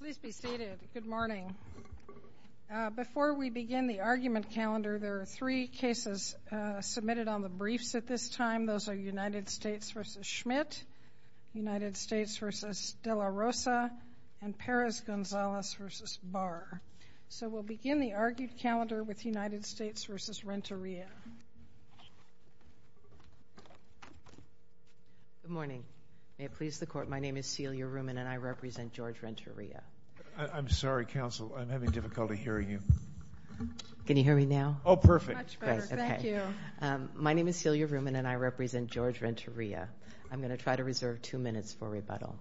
Please be seated. Good morning. Before we begin the argument calendar, there are three cases submitted on the briefs at this time. Those are United States v. Schmidt, United States v. De La Rosa, and Perez-Gonzalez v. Barr. So we'll begin the argued calendar with United States v. Renteria. Good morning. May it please the I'm sorry, counsel. I'm having difficulty hearing you. Can you hear me now? Oh, perfect. My name is Celia Ruman and I represent George Renteria. I'm going to try to reserve two minutes for rebuttal.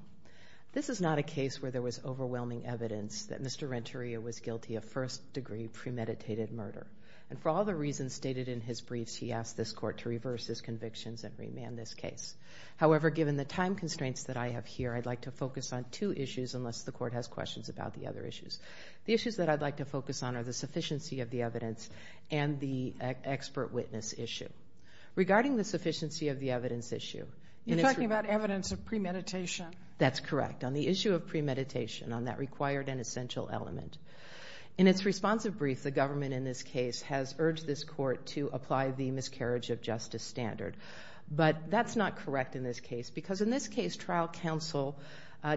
This is not a case where there was overwhelming evidence that Mr. Renteria was guilty of first-degree premeditated murder. And for all the reasons stated in his briefs, he asked this court to reverse his convictions and remand this case. However, given the time constraints that I have here, I'd like to focus on two issues, unless the court has questions about the other issues. The issues that I'd like to focus on are the sufficiency of the evidence and the expert witness issue. Regarding the sufficiency of the evidence issue... You're talking about evidence of premeditation. That's correct. On the issue of premeditation, on that required and essential element. In its responsive brief, the government in this case has urged this court to apply the miscarriage of justice standard. But that's not correct in this case, because in this case, trial counsel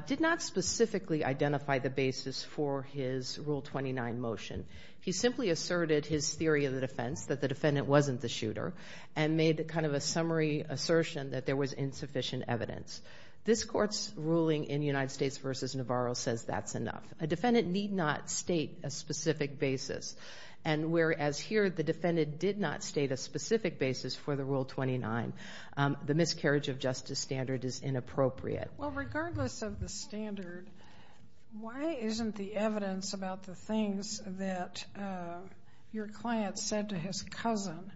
did not specifically identify the basis for his Rule 29 motion. He simply asserted his theory of the defense, that the defendant wasn't the shooter, and made kind of a summary assertion that there was insufficient evidence. This court's ruling in United States v. Navarro says that's enough. A defendant need not state a specific basis. And whereas here, the defendant did not state a specific basis for the Rule 29. The miscarriage of justice standard is inappropriate. Well, regardless of the standard, why isn't the evidence about the things that your client said to his cousin,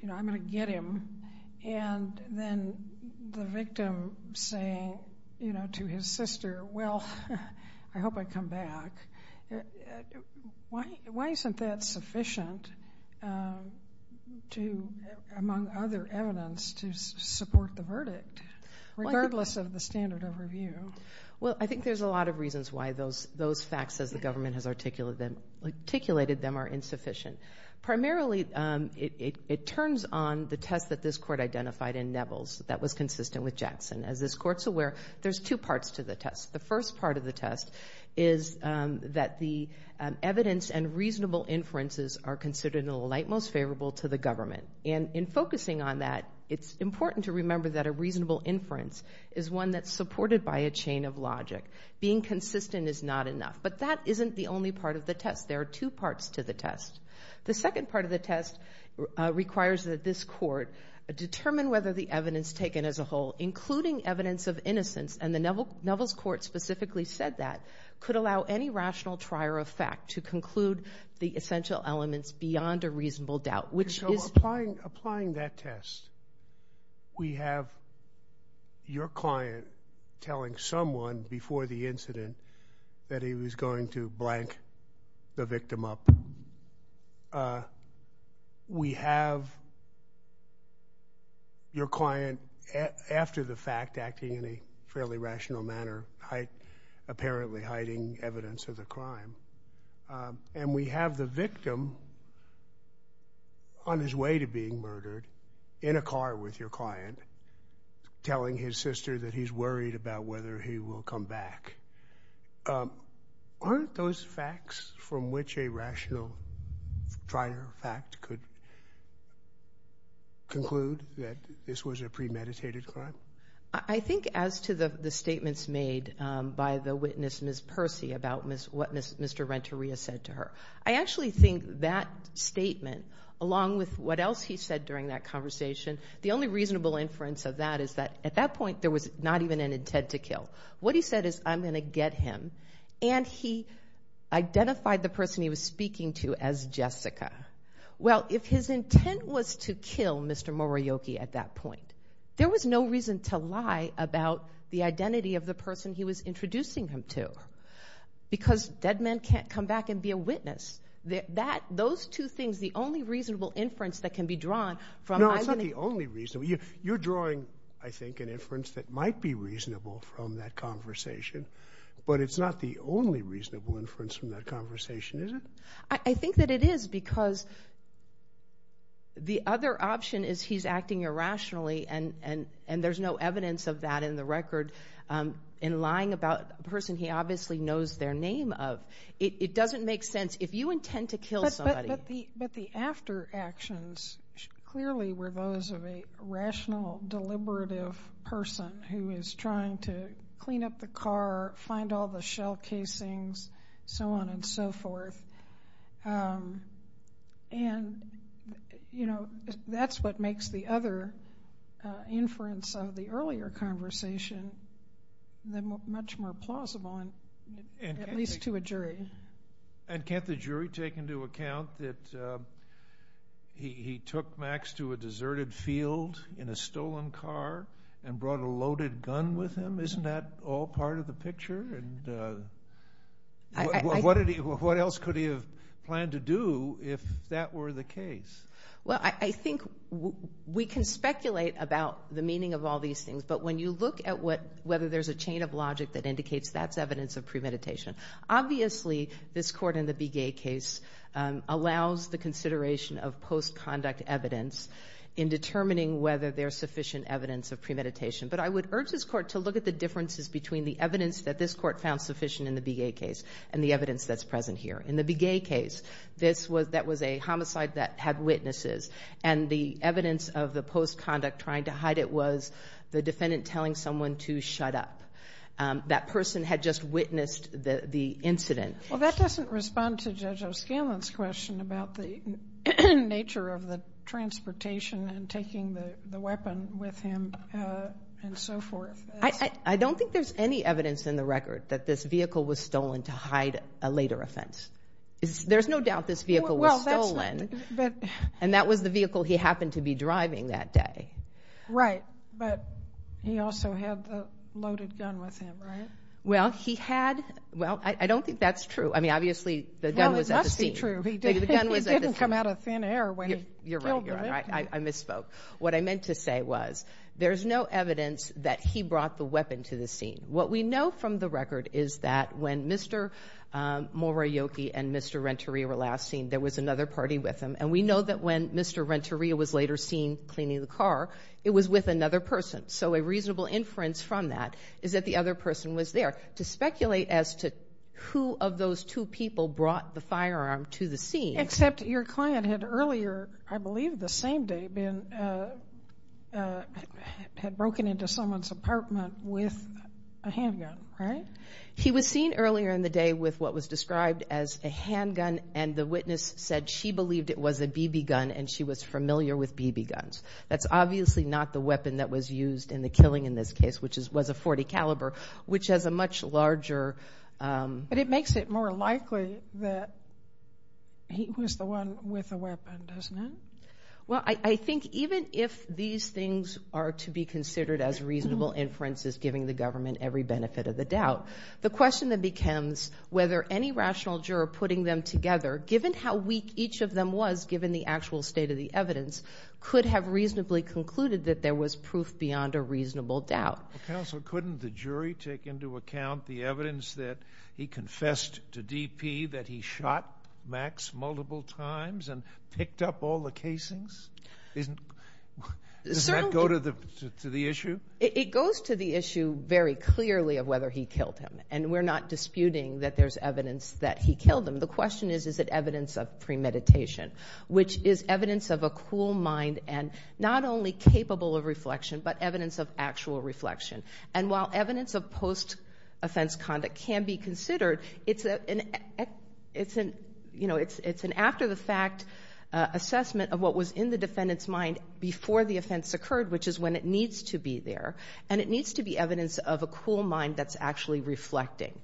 you know, I'm going to get him. And then the victim saying, you know, to his sister, well, I hope I come back. Why isn't that sufficient to, among other evidence, to support the verdict, regardless of the standard of review? Well, I think there's a lot of reasons why those facts, as the government has articulated them, are insufficient. Primarily, it turns on the test that this court identified in Neville's that was consistent with Jackson. As this court's aware, there's two parts to the test. The first part of the test is that the evidence and reasonable inferences are considered the light most favorable to the government. And in focusing on that, it's important to remember that a reasonable inference is one that's supported by a chain of logic. Being consistent is not enough. But that isn't the only part of the test. There are two parts to the test. The second part of the test requires that this court determine whether the evidence taken as a whole, including evidence of innocence, and the Neville's court specifically said that, could allow any rational trier of fact to conclude the essential elements beyond a reasonable doubt, which is... So, applying that test, we have your client telling someone before the incident that he was going to blank the victim up. We have your client, after the fact, acting in a fairly rational manner, apparently hiding evidence of the crime. And we have the victim on his way to being murdered, in a car with your client, telling his sister that he's worried about whether he will come back. Aren't those facts from which a rational trier of fact could conclude that this was a premeditated crime? I think as to the testimony of Ms. Percy about what Mr. Renteria said to her, I actually think that statement, along with what else he said during that conversation, the only reasonable inference of that is that, at that point, there was not even an intent to kill. What he said is, I'm going to get him. And he identified the person he was speaking to as Jessica. Well, if his intent was to kill Mr. Morioki at that point, there was no reason to lie about the identity of the person he was speaking to. Because dead men can't come back and be a witness. Those two things, the only reasonable inference that can be drawn from... No, it's not the only reason. You're drawing, I think, an inference that might be reasonable from that conversation. But it's not the only reasonable inference from that conversation, is it? I think that it is, because the other option is he's acting irrationally, and there's no evidence of that in the record. In lying about a person he obviously knows their name of, it doesn't make sense. If you intend to kill somebody... But the after actions clearly were those of a rational, deliberative person who is trying to clean up the car, find all the shell casings, so on and so forth. And, you know, that's what makes the other inference of the earlier conversation much more plausible, at least to a jury. And can't the jury take into account that he took Max to a deserted field in a stolen car and brought a loaded gun with him? Isn't that all part of the picture? What else could he have planned to do if that were the case? Well, I think we can speculate about the meaning of all these things, but when you look at whether there's a chain of logic that indicates that's evidence of premeditation, obviously this court in the Begay case allows the consideration of post-conduct evidence in determining whether there's sufficient evidence of premeditation. But I would urge this court to look at the differences between the evidence that this court found sufficient in the Begay case and the evidence that's present here. In the Begay case, that was a homicide that had witnesses, and the evidence of the post-conduct trying to hide it was the defendant telling someone to shut up. That person had just witnessed the incident. Well, that doesn't respond to Judge O'Scanlan's question about the nature of the transportation and taking the weapon with him and so forth. I don't think there's any evidence in the record that this vehicle was stolen to hide a later offense. There's no doubt this vehicle was stolen. And that was the vehicle he happened to be driving that day. Right, but he also had the loaded gun with him, right? Well, he had. Well, I don't think that's true. I mean, obviously the gun was at the scene. Well, it must be true. He didn't come out of thin air when he killed him. You're right. I misspoke. What I meant to say was there's no evidence that he brought the weapon to the scene. What we know from the record is that when Mr. Morioki and Mr. Renteria were last seen, there was another party with him. And we know that when Mr. Renteria was later seen cleaning the car, it was with another person. So a reasonable inference from that is that the other person was there. To speculate as to who of those two people brought the firearm to the scene. Except your client had earlier, I believe the same day, had broken into someone's apartment with a handgun, right? He was seen earlier in the day with what was described as a handgun. And the witness said she believed it was a BB gun and she was familiar with BB guns. That's obviously not the weapon that was used in the killing in this case, which was a .40 caliber, which has a much larger... But it makes it more likely that he was the one with the weapon, doesn't it? Well, I think even if these things are to be considered as reasonable inferences, giving the government every benefit of the doubt. The question that becomes whether any rational juror putting them together, given how weak each of them was, given the actual state of the evidence, could have reasonably concluded that there was proof beyond a reasonable doubt. Counsel, couldn't the jury take into account the evidence that he confessed to DP that he shot Max multiple times and picked up all the casings? Doesn't that go to the issue? It goes to the issue very clearly of whether he killed him. And we're not disputing that there's evidence that he killed him. The question is, is it evidence of premeditation, which is evidence of a cool mind and not only capable of reflection, but evidence of actual reflection. And while evidence of post-offense conduct can be considered, it's an after-the-fact assessment of what was in the defendant's mind before the offense occurred, which is when it was there. And it needs to be evidence of a cool mind that's actually reflecting.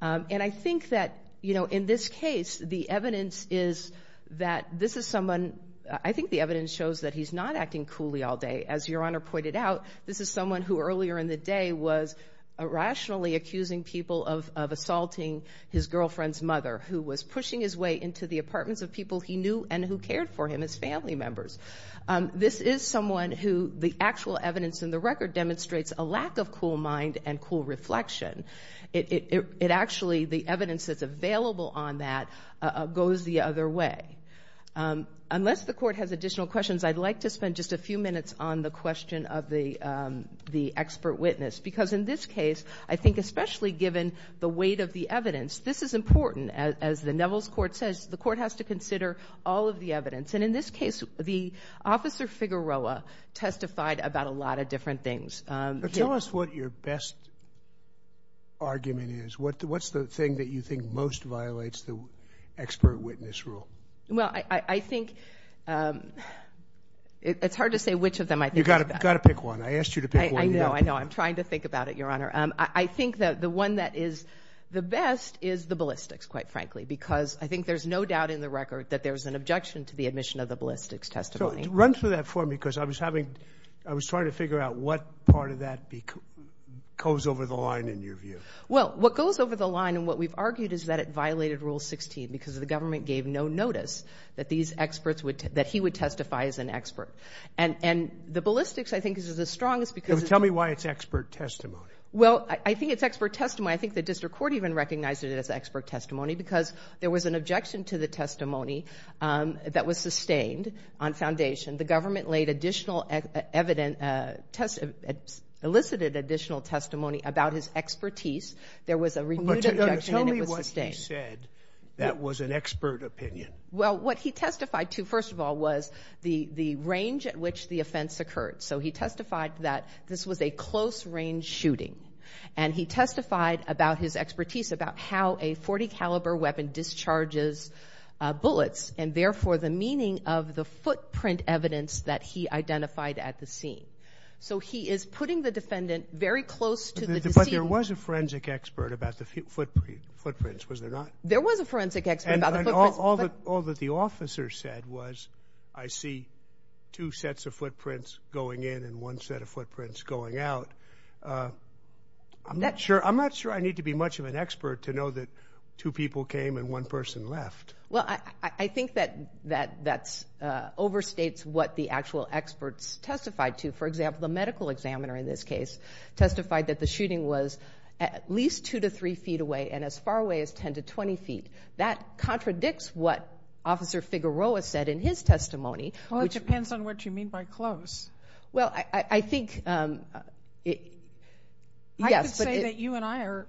And I think that, you know, in this case, the evidence is that this is someone, I think the evidence shows that he's not acting coolly all day. As Your Honor pointed out, this is someone who earlier in the day was rationally accusing people of assaulting his girlfriend's mother, who was pushing his way into the apartments of people he knew and who cared for him as family members. This is someone who the actual evidence in the record demonstrates a lack of cool mind and cool reflection. It actually, the evidence that's available on that goes the other way. Unless the Court has additional questions, I'd like to spend just a few minutes on the question of the expert witness. Because in this case, I think especially given the weight of the evidence, this is important. As the Neville's Court says, the Court has to the Officer Figueroa testified about a lot of different things. Tell us what your best argument is. What's the thing that you think most violates the expert witness rule? Well, I think it's hard to say which of them. I think you've got to pick one. I asked you to pick one. I know. I know. I'm trying to think about it, Your Honor. I think that the one that is the best is the ballistics, quite frankly, because I think there's no doubt in the record that there's an objection to the ballistics testimony. So, run through that for me because I was having, I was trying to figure out what part of that goes over the line in your view. Well, what goes over the line and what we've argued is that it violated Rule 16 because the government gave no notice that these experts would, that he would testify as an expert. And the ballistics, I think, is the strongest because... Tell me why it's expert testimony. Well, I think it's expert testimony. I think the District Court even recognized it as expert testimony because there was an objection to the testimony that was sustained on foundation. The government laid additional evident, elicited additional testimony about his expertise. There was a renewed objection and it was sustained. Tell me what he said that was an expert opinion. Well, what he testified to, first of all, was the range at which the offense occurred. So he testified that this was a close range shooting. And he testified about his expertise about how a .40 caliber weapon discharges bullets and therefore the meaning of the footprint evidence that he identified at the scene. So he is putting the defendant very close to the... But there was a forensic expert about the footprints, was there not? There was a forensic expert about the footprints. And all that the officer said was, I see two sets of footprints going in and one set of footprints going out. I'm not sure, I'm not sure I need to be much of an expert to know that two people came and one person left. Well, I think that that's overstates what the actual experts testified to. For example, the medical examiner in this case testified that the shooting was at least two to three feet away and as far away as ten to twenty feet. That contradicts what Officer Figueroa said in his testimony. Well, it depends on what you mean by close. Well, I think... I could say that you and I are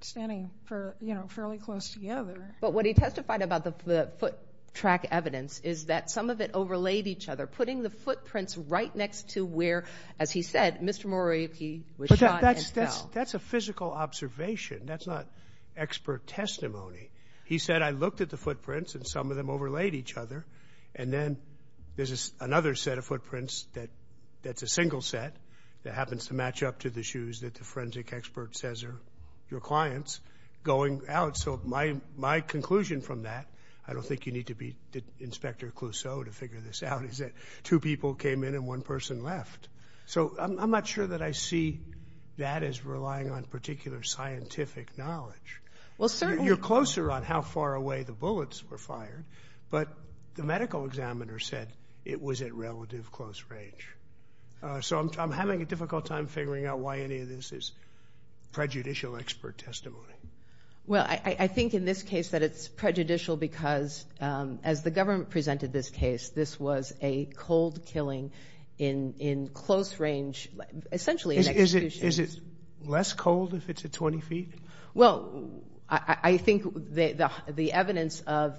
standing for, you know, fairly close together. But what he testified about the foot track evidence is that some of it overlaid each other, putting the footprints right next to where, as he said, Mr. Morioky was shot and fell. But that's a physical observation. That's not expert testimony. He said, I looked at the footprints and some of them overlaid each other and then there's another set of footprints that's a single set that happens to your clients going out. So my conclusion from that, I don't think you need to be Inspector Clouseau to figure this out, is that two people came in and one person left. So I'm not sure that I see that as relying on particular scientific knowledge. You're closer on how far away the bullets were fired, but the medical examiner said it was at relative close range. So I'm having a difficult time figuring out why any of this is prejudicial expert testimony. Well, I think in this case that it's prejudicial because, as the government presented this case, this was a cold killing in close range, essentially... Is it less cold if it's at 20 feet? Well, I think the evidence of,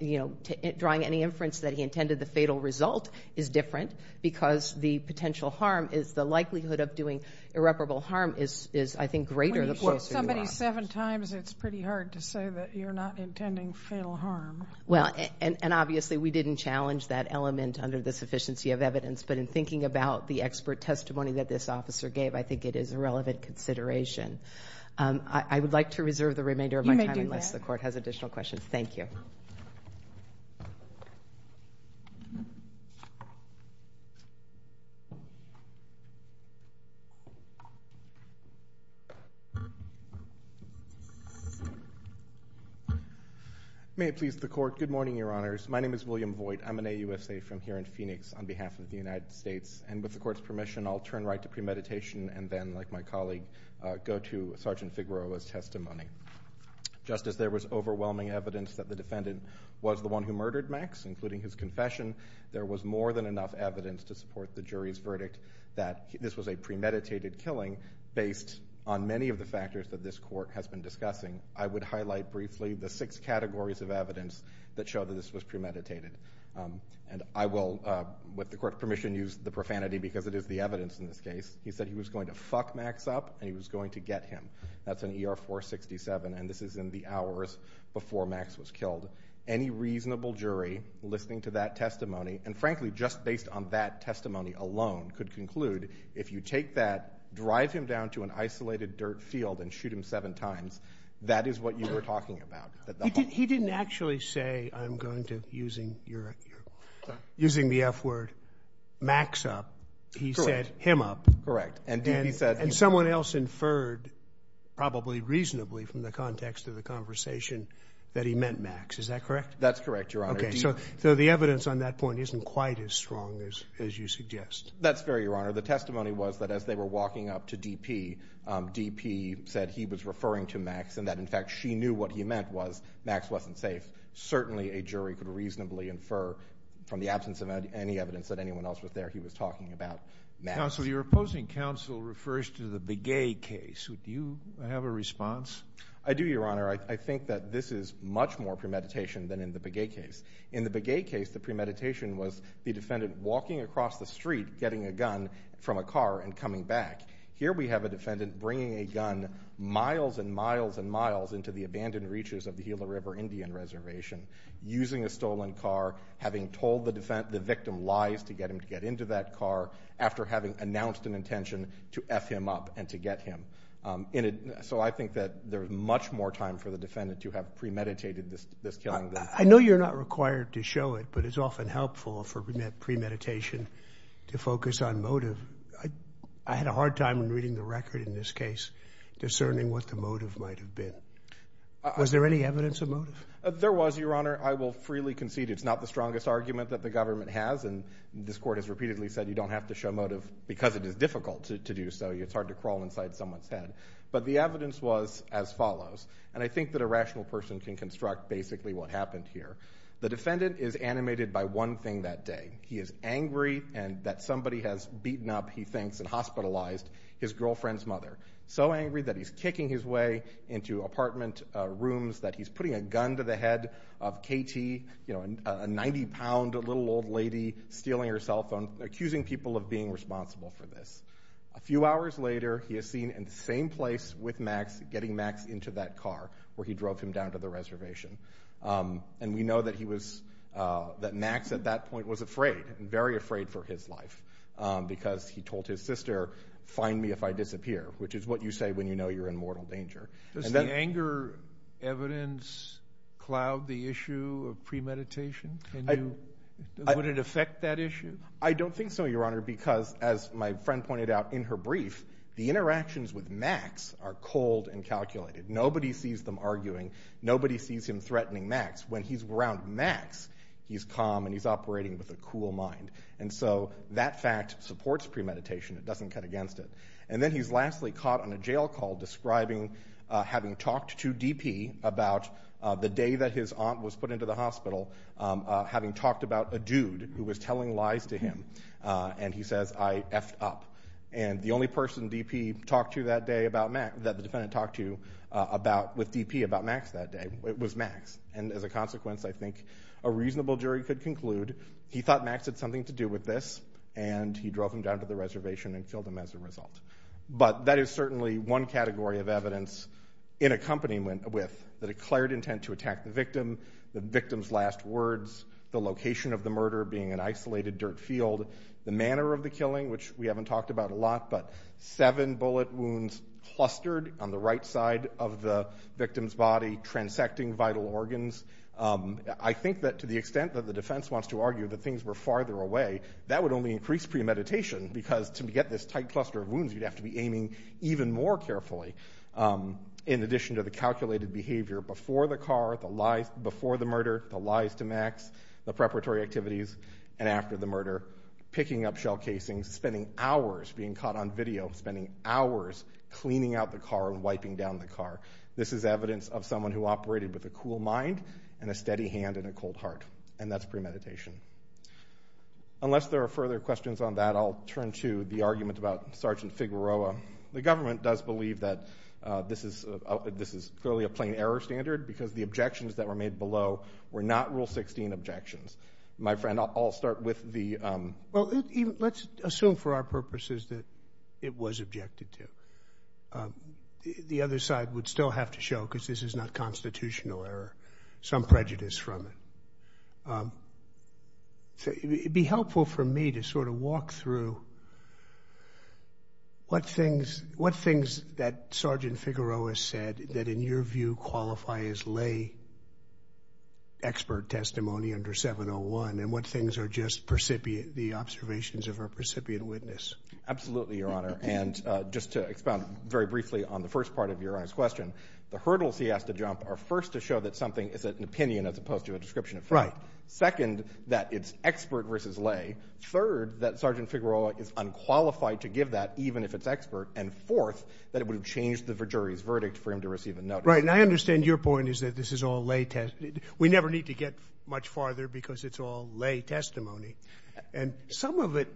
you know, drawing any inference that he intended the fatal result is different because the potential harm is the likelihood of doing irreparable harm is, I think, greater. When you shoot somebody seven times, it's pretty hard to say that you're not intending fatal harm. Well, and obviously we didn't challenge that element under the sufficiency of evidence, but in thinking about the expert testimony that this officer gave, I think it is a relevant consideration. I would like to reserve the remainder of my time... You may do that. ...unless the court has additional questions. Thank you. May it please the court. Good morning, Your Honors. My name is William Voigt. I'm an AUSA from here in Phoenix on behalf of the United States. And with the court's permission, I'll turn right to premeditation and then, like my colleague, go to Sergeant Figueroa's testimony. Just as there was overwhelming evidence that the defendant was the one who murdered Max, including his confession, there was more than enough evidence to support the defendant's claim. And I will, with the court's permission, use the profanity because it is the evidence in this case. He said he was going to fuck Max up and he was going to get him. That's in ER 467, and this is in the hours before Max was killed. Any reasonable jury listening to that testimony, and frankly, just based on that testimony alone, is going to support the defendant's claim. And I will, with the court's permission, use the profanity because it is the evidence in this case. He said he was going to fuck Max up and he was going to get him. That's in ER 467, and this is in the hours before Max was killed. Any reasonable jury listening to that testimony, and frankly, just based on that testimony alone, is going to support the defendant's claim. That's fair, Your Honor. The testimony was that as they were walking up to D.P., D.P. said he was referring to Max and that, in fact, she knew what he meant was Max wasn't safe. Certainly, a jury could reasonably infer from the absence of any evidence that anyone else was there, he was talking about Max. Counsel, your opposing counsel refers to the Begay case. Do you have a response? I do, Your Honor. I think that this is much more premeditation than in the Begay case. In the Begay case, the premeditation was the defendant walking across the street getting a gun from a car and coming back. Here we have a defendant bringing a gun miles and miles and miles into the abandoned reaches of the Gila River Indian Reservation, using a stolen car, having told the victim lies to get him to get into that car, after having announced an intention to F him up and to get him. So I think that there's much more time for the defendant to have premeditated this killing than... I know you're not required to show it, but it's often helpful for premeditation to focus on motive. I had a hard time reading the record in this case, discerning what the motive might have been. Was there any evidence of motive? There was, Your Honor. I will freely concede it's not the strongest argument that the government has, and this Court has repeatedly said you don't have to show motive because it is difficult to do so. It's hard to crawl inside someone's head. But the evidence was as follows, and I think that a rational person can construct basically what happened here. The defendant is animated by one thing that day. He is angry that somebody has beaten up, he thinks, and hospitalized his girlfriend's mother. So angry that he's kicking his way into apartment rooms, that he's putting a gun to the head of Katie, a 90-pound little old lady, stealing her cell phone, accusing people of being responsible for this. A few hours later, he is seen in the same place with Max, getting Max into that car where he drove him down to the reservation. And we know that Max at that point was afraid, very afraid for his life, because he told his sister, find me if I disappear, which is what you say when you know you're in mortal danger. Does the anger evidence cloud the issue of premeditation? Would it affect that issue? I don't think so, Your Honor, because as my friend pointed out in her brief, the interactions with Max are cold and calculated. Nobody sees them arguing. Nobody sees him threatening Max. When he's around Max, he's calm and he's operating with a cool mind. And so that fact supports premeditation. It doesn't cut against it. And then he's lastly caught on a jail call describing having talked to DP about the day that his aunt was put into the hospital, having talked about a dude who was telling lies to him. And he says, I effed up. And the only person DP talked to that day that the defendant talked to with DP about Max that day was Max. And as a consequence, I think a reasonable jury could conclude he thought Max had something to do with this, and he drove him down to the reservation and killed him as a result. But that is certainly one category of evidence in accompaniment with the declared intent to attack the victim, the victim's last words, the location of the murder being an isolated dirt field, the manner of the killing, which we haven't talked about a lot, but seven bullet wounds clustered on the right side of the victim's body, transecting vital organs. I think that to the extent that the defense wants to argue that things were farther away, that would only increase premeditation, because to get this tight cluster of wounds, you'd have to be aiming even more carefully in addition to the calculated behavior before the murder, the lies to Max, the preparatory activities, and after the murder, picking up shell casings, spending hours being caught on video, spending hours cleaning out the car and wiping down the car. This is evidence of someone who operated with a cool mind and a steady hand and a cold heart, and that's premeditation. Unless there are further questions on that, I'll turn to the argument about Sergeant Figueroa. The government does believe that this is clearly a plain error standard because the objections that were made below were not Rule 16 objections. My friend, I'll start with the— Well, let's assume for our purposes that it was objected to. The other side would still have to show, because this is not constitutional error, some prejudice from it. It would be helpful for me to sort of walk through what things that Sergeant Figueroa said that, in your view, qualify as lay expert testimony under 701, and what things are just the observations of a precipient witness. Absolutely, Your Honor. And just to expound very briefly on the first part of Your Honor's question, the hurdles he has to jump are, first, to show that something is an opinion as opposed to a description of facts. Right. Second, that it's expert versus lay. Third, that Sergeant Figueroa is unqualified to give that, even if it's expert. And fourth, that it would have changed the jury's verdict for him to receive a notice. Right. And I understand your point is that this is all lay testimony. We never need to get much farther because it's all lay testimony. And some of it,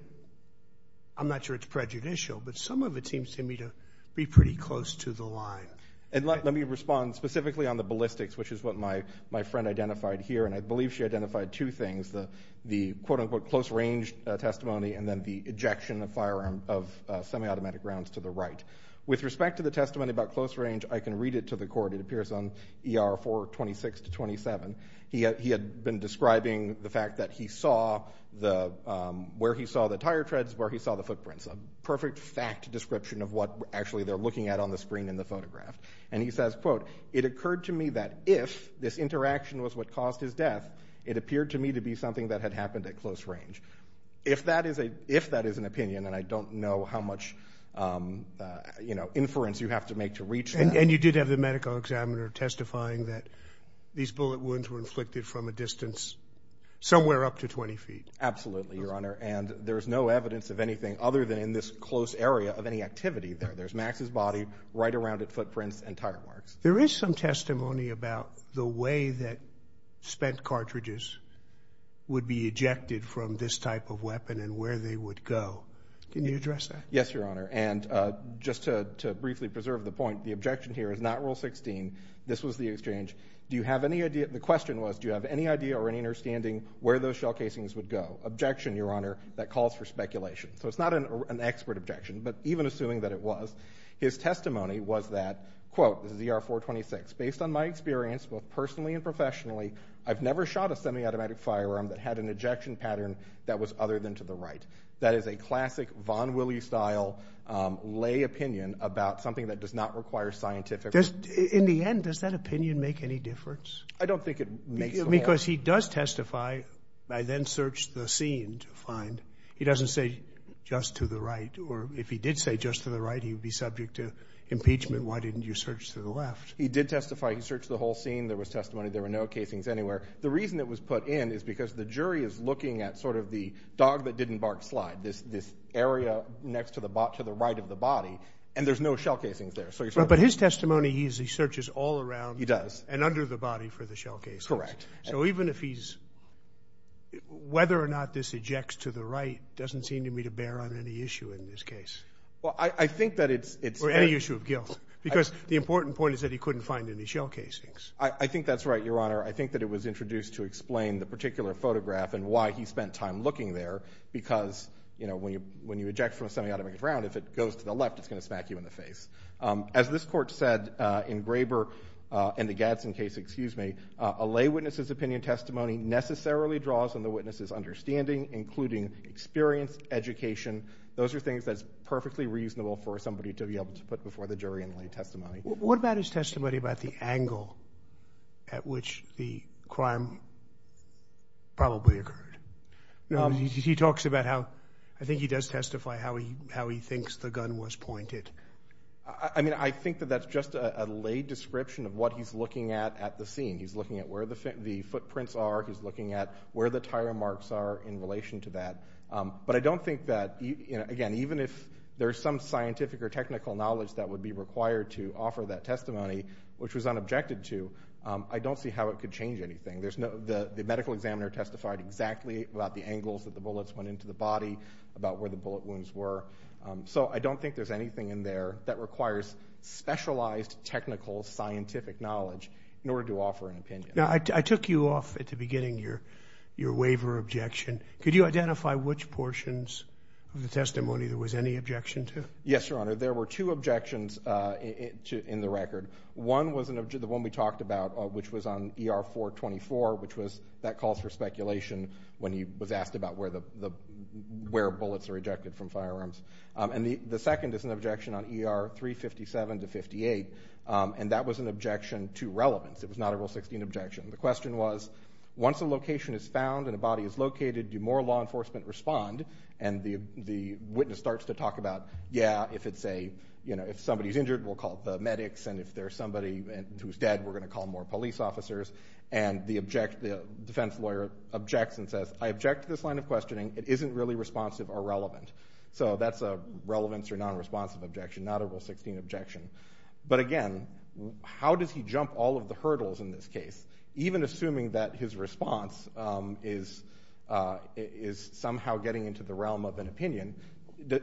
I'm not sure it's prejudicial, but some of it seems to me to be pretty close to the line. And let me respond specifically on the ballistics, which is what my friend identified here. And I believe she identified two things, the quote-unquote close-range testimony and then the ejection of semi-automatic rounds to the right. With respect to the testimony about close range, I can read it to the court. It appears on ER 426-27. He had been describing the fact that he saw where he saw the tire treads, where he saw the footprints, a perfect fact description of what actually they're looking at on the screen in the photograph. And he says, quote, it occurred to me that if this interaction was what caused his death, it appeared to me to be something that had happened at close range. If that is an opinion, and I don't know how much, you know, inference you have to make to reach that. And you did have the medical examiner testifying that these bullet wounds were inflicted from a distance somewhere up to 20 feet. Absolutely, Your Honor. And there is no evidence of anything other than in this close area of any activity there. There's Max's body right around at footprints and tire marks. There is some testimony about the way that spent cartridges would be ejected from this type of weapon and where they would go. Can you address that? Yes, Your Honor. And just to briefly preserve the point, the objection here is not Rule 16. This was the exchange. The question was, do you have any idea or any understanding where those shell casings would go? Objection, Your Honor. That calls for speculation. So it's not an expert objection. But even assuming that it was, his testimony was that, quote, this is ER-426, based on my experience, both personally and professionally, I've never shot a semi-automatic firearm that had an ejection pattern that was other than to the right. That is a classic Von Wille-style lay opinion about something that does not require scientific. In the end, does that opinion make any difference? I don't think it makes a difference. Because he does testify. I then searched the scene to find. He doesn't say just to the right. Or if he did say just to the right, he would be subject to impeachment. Why didn't you search to the left? He did testify. He searched the whole scene. There was testimony. There were no casings anywhere. The reason it was put in is because the jury is looking at sort of the dog that didn't bark slide, this area next to the right of the body, and there's no shell casings there. But his testimony, he searches all around. He does. And under the body for the shell casings. Correct. So even if he's ‑‑ whether or not this ejects to the right doesn't seem to me to bear on any issue in this case. Well, I think that it's ‑‑ Or any issue of guilt. Because the important point is that he couldn't find any shell casings. I think that's right, Your Honor. I think that it was introduced to explain the particular photograph and why he spent time looking there. Because, you know, when you eject from a semiautomatic round, if it goes to the left, it's going to smack you in the face. As this Court said in Graber and the Gadson case, excuse me, a lay witness's opinion testimony necessarily draws on the witness's understanding, including experience, education. Those are things that's perfectly reasonable for somebody to be able to put before the jury in lay testimony. What about his testimony about the angle at which the crime probably occurred? He talks about how ‑‑ I think he does testify how he thinks the gun was pointed. I mean, I think that that's just a lay description of what he's looking at at the scene. He's looking at where the footprints are. He's looking at where the tire marks are in relation to that. But I don't think that, again, even if there's some scientific or technical knowledge that would be required to offer that testimony, which was unobjected to, I don't see how it could change anything. The medical examiner testified exactly about the angles that the bullets went into the body, about where the bullet wounds were. So I don't think there's anything in there that requires specialized technical scientific knowledge in order to offer an opinion. Now, I took you off at the beginning your waiver objection. Could you identify which portions of the testimony there was any objection to? Yes, Your Honor. There were two objections in the record. One was the one we talked about, which was on ER 424, which was that calls for speculation when he was asked about where bullets are ejected from firearms. And the second is an objection on ER 357 to 58, and that was an objection to relevance. It was not a Rule 16 objection. The question was, once a location is found and a body is located, do more law enforcement respond? And the witness starts to talk about, yeah, if somebody's injured, we'll call the medics, and if there's somebody who's dead, we're going to call more police officers. And the defense lawyer objects and says, I object to this line of questioning. It isn't really responsive or relevant. So that's a relevance or nonresponsive objection, not a Rule 16 objection. But, again, how does he jump all of the hurdles in this case? Even assuming that his response is somehow getting into the realm of an opinion,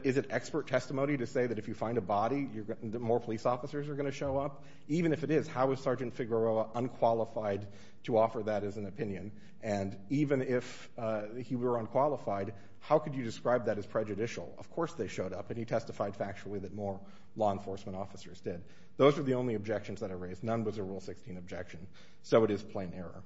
is it expert testimony to say that if you find a body, more police officers are going to show up? Even if it is, how is Sergeant Figueroa unqualified to offer that as an opinion? And even if he were unqualified, how could you describe that as prejudicial? Of course they showed up, and he testified factually that more law enforcement officers did. Those are the only objections that are raised. None was a Rule 16 objection. So it is plain error.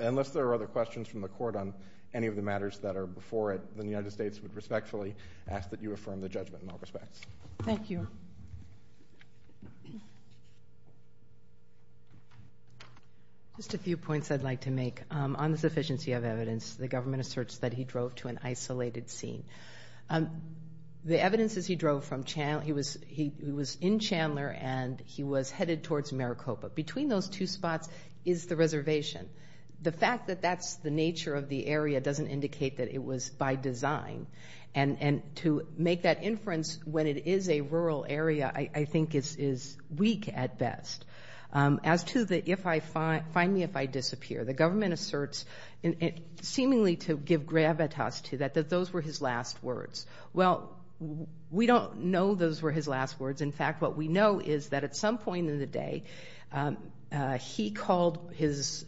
Unless there are other questions from the Court on any of the matters that are before it, then the United States would respectfully ask that you affirm the judgment in all respects. Thank you. Just a few points I'd like to make. On the sufficiency of evidence, the government asserts that he drove to an isolated scene. The evidence is he drove from Chandler. He was in Chandler, and he was headed towards Maricopa. Between those two spots is the reservation. The fact that that's the nature of the area doesn't indicate that it was by design. And to make that inference when it is a rural area I think is weak at best. As to the find me if I disappear, the government asserts, seemingly to give gravitas to that, that those were his last words. Well, we don't know those were his last words. In fact, what we know is that at some point in the day he called his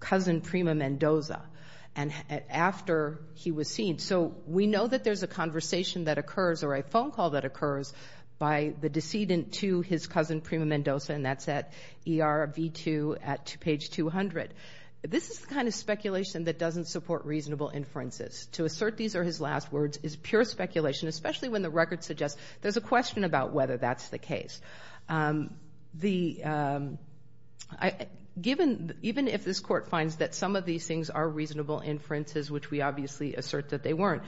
cousin Prima Mendoza after he was seen. So we know that there's a conversation that occurs or a phone call that occurs by the decedent to his cousin Prima Mendoza, and that's at ER V2 at page 200. This is the kind of speculation that doesn't support reasonable inferences. To assert these are his last words is pure speculation, especially when the record suggests there's a question about whether that's the case. Even if this Court finds that some of these things are reasonable inferences, which we obviously assert that they weren't,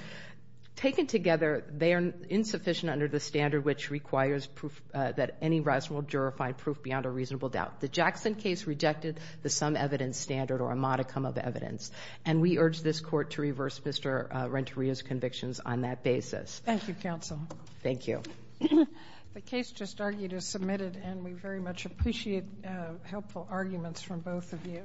taken together, they are insufficient under the standard which requires that any reasonable juror find proof beyond a reasonable doubt. The Jackson case rejected the sum evidence standard or a modicum of evidence, and we urge this Court to reverse Mr. Renteria's convictions on that basis. Thank you, counsel. Thank you. The case just argued is submitted, and we very much appreciate helpful arguments from both of you.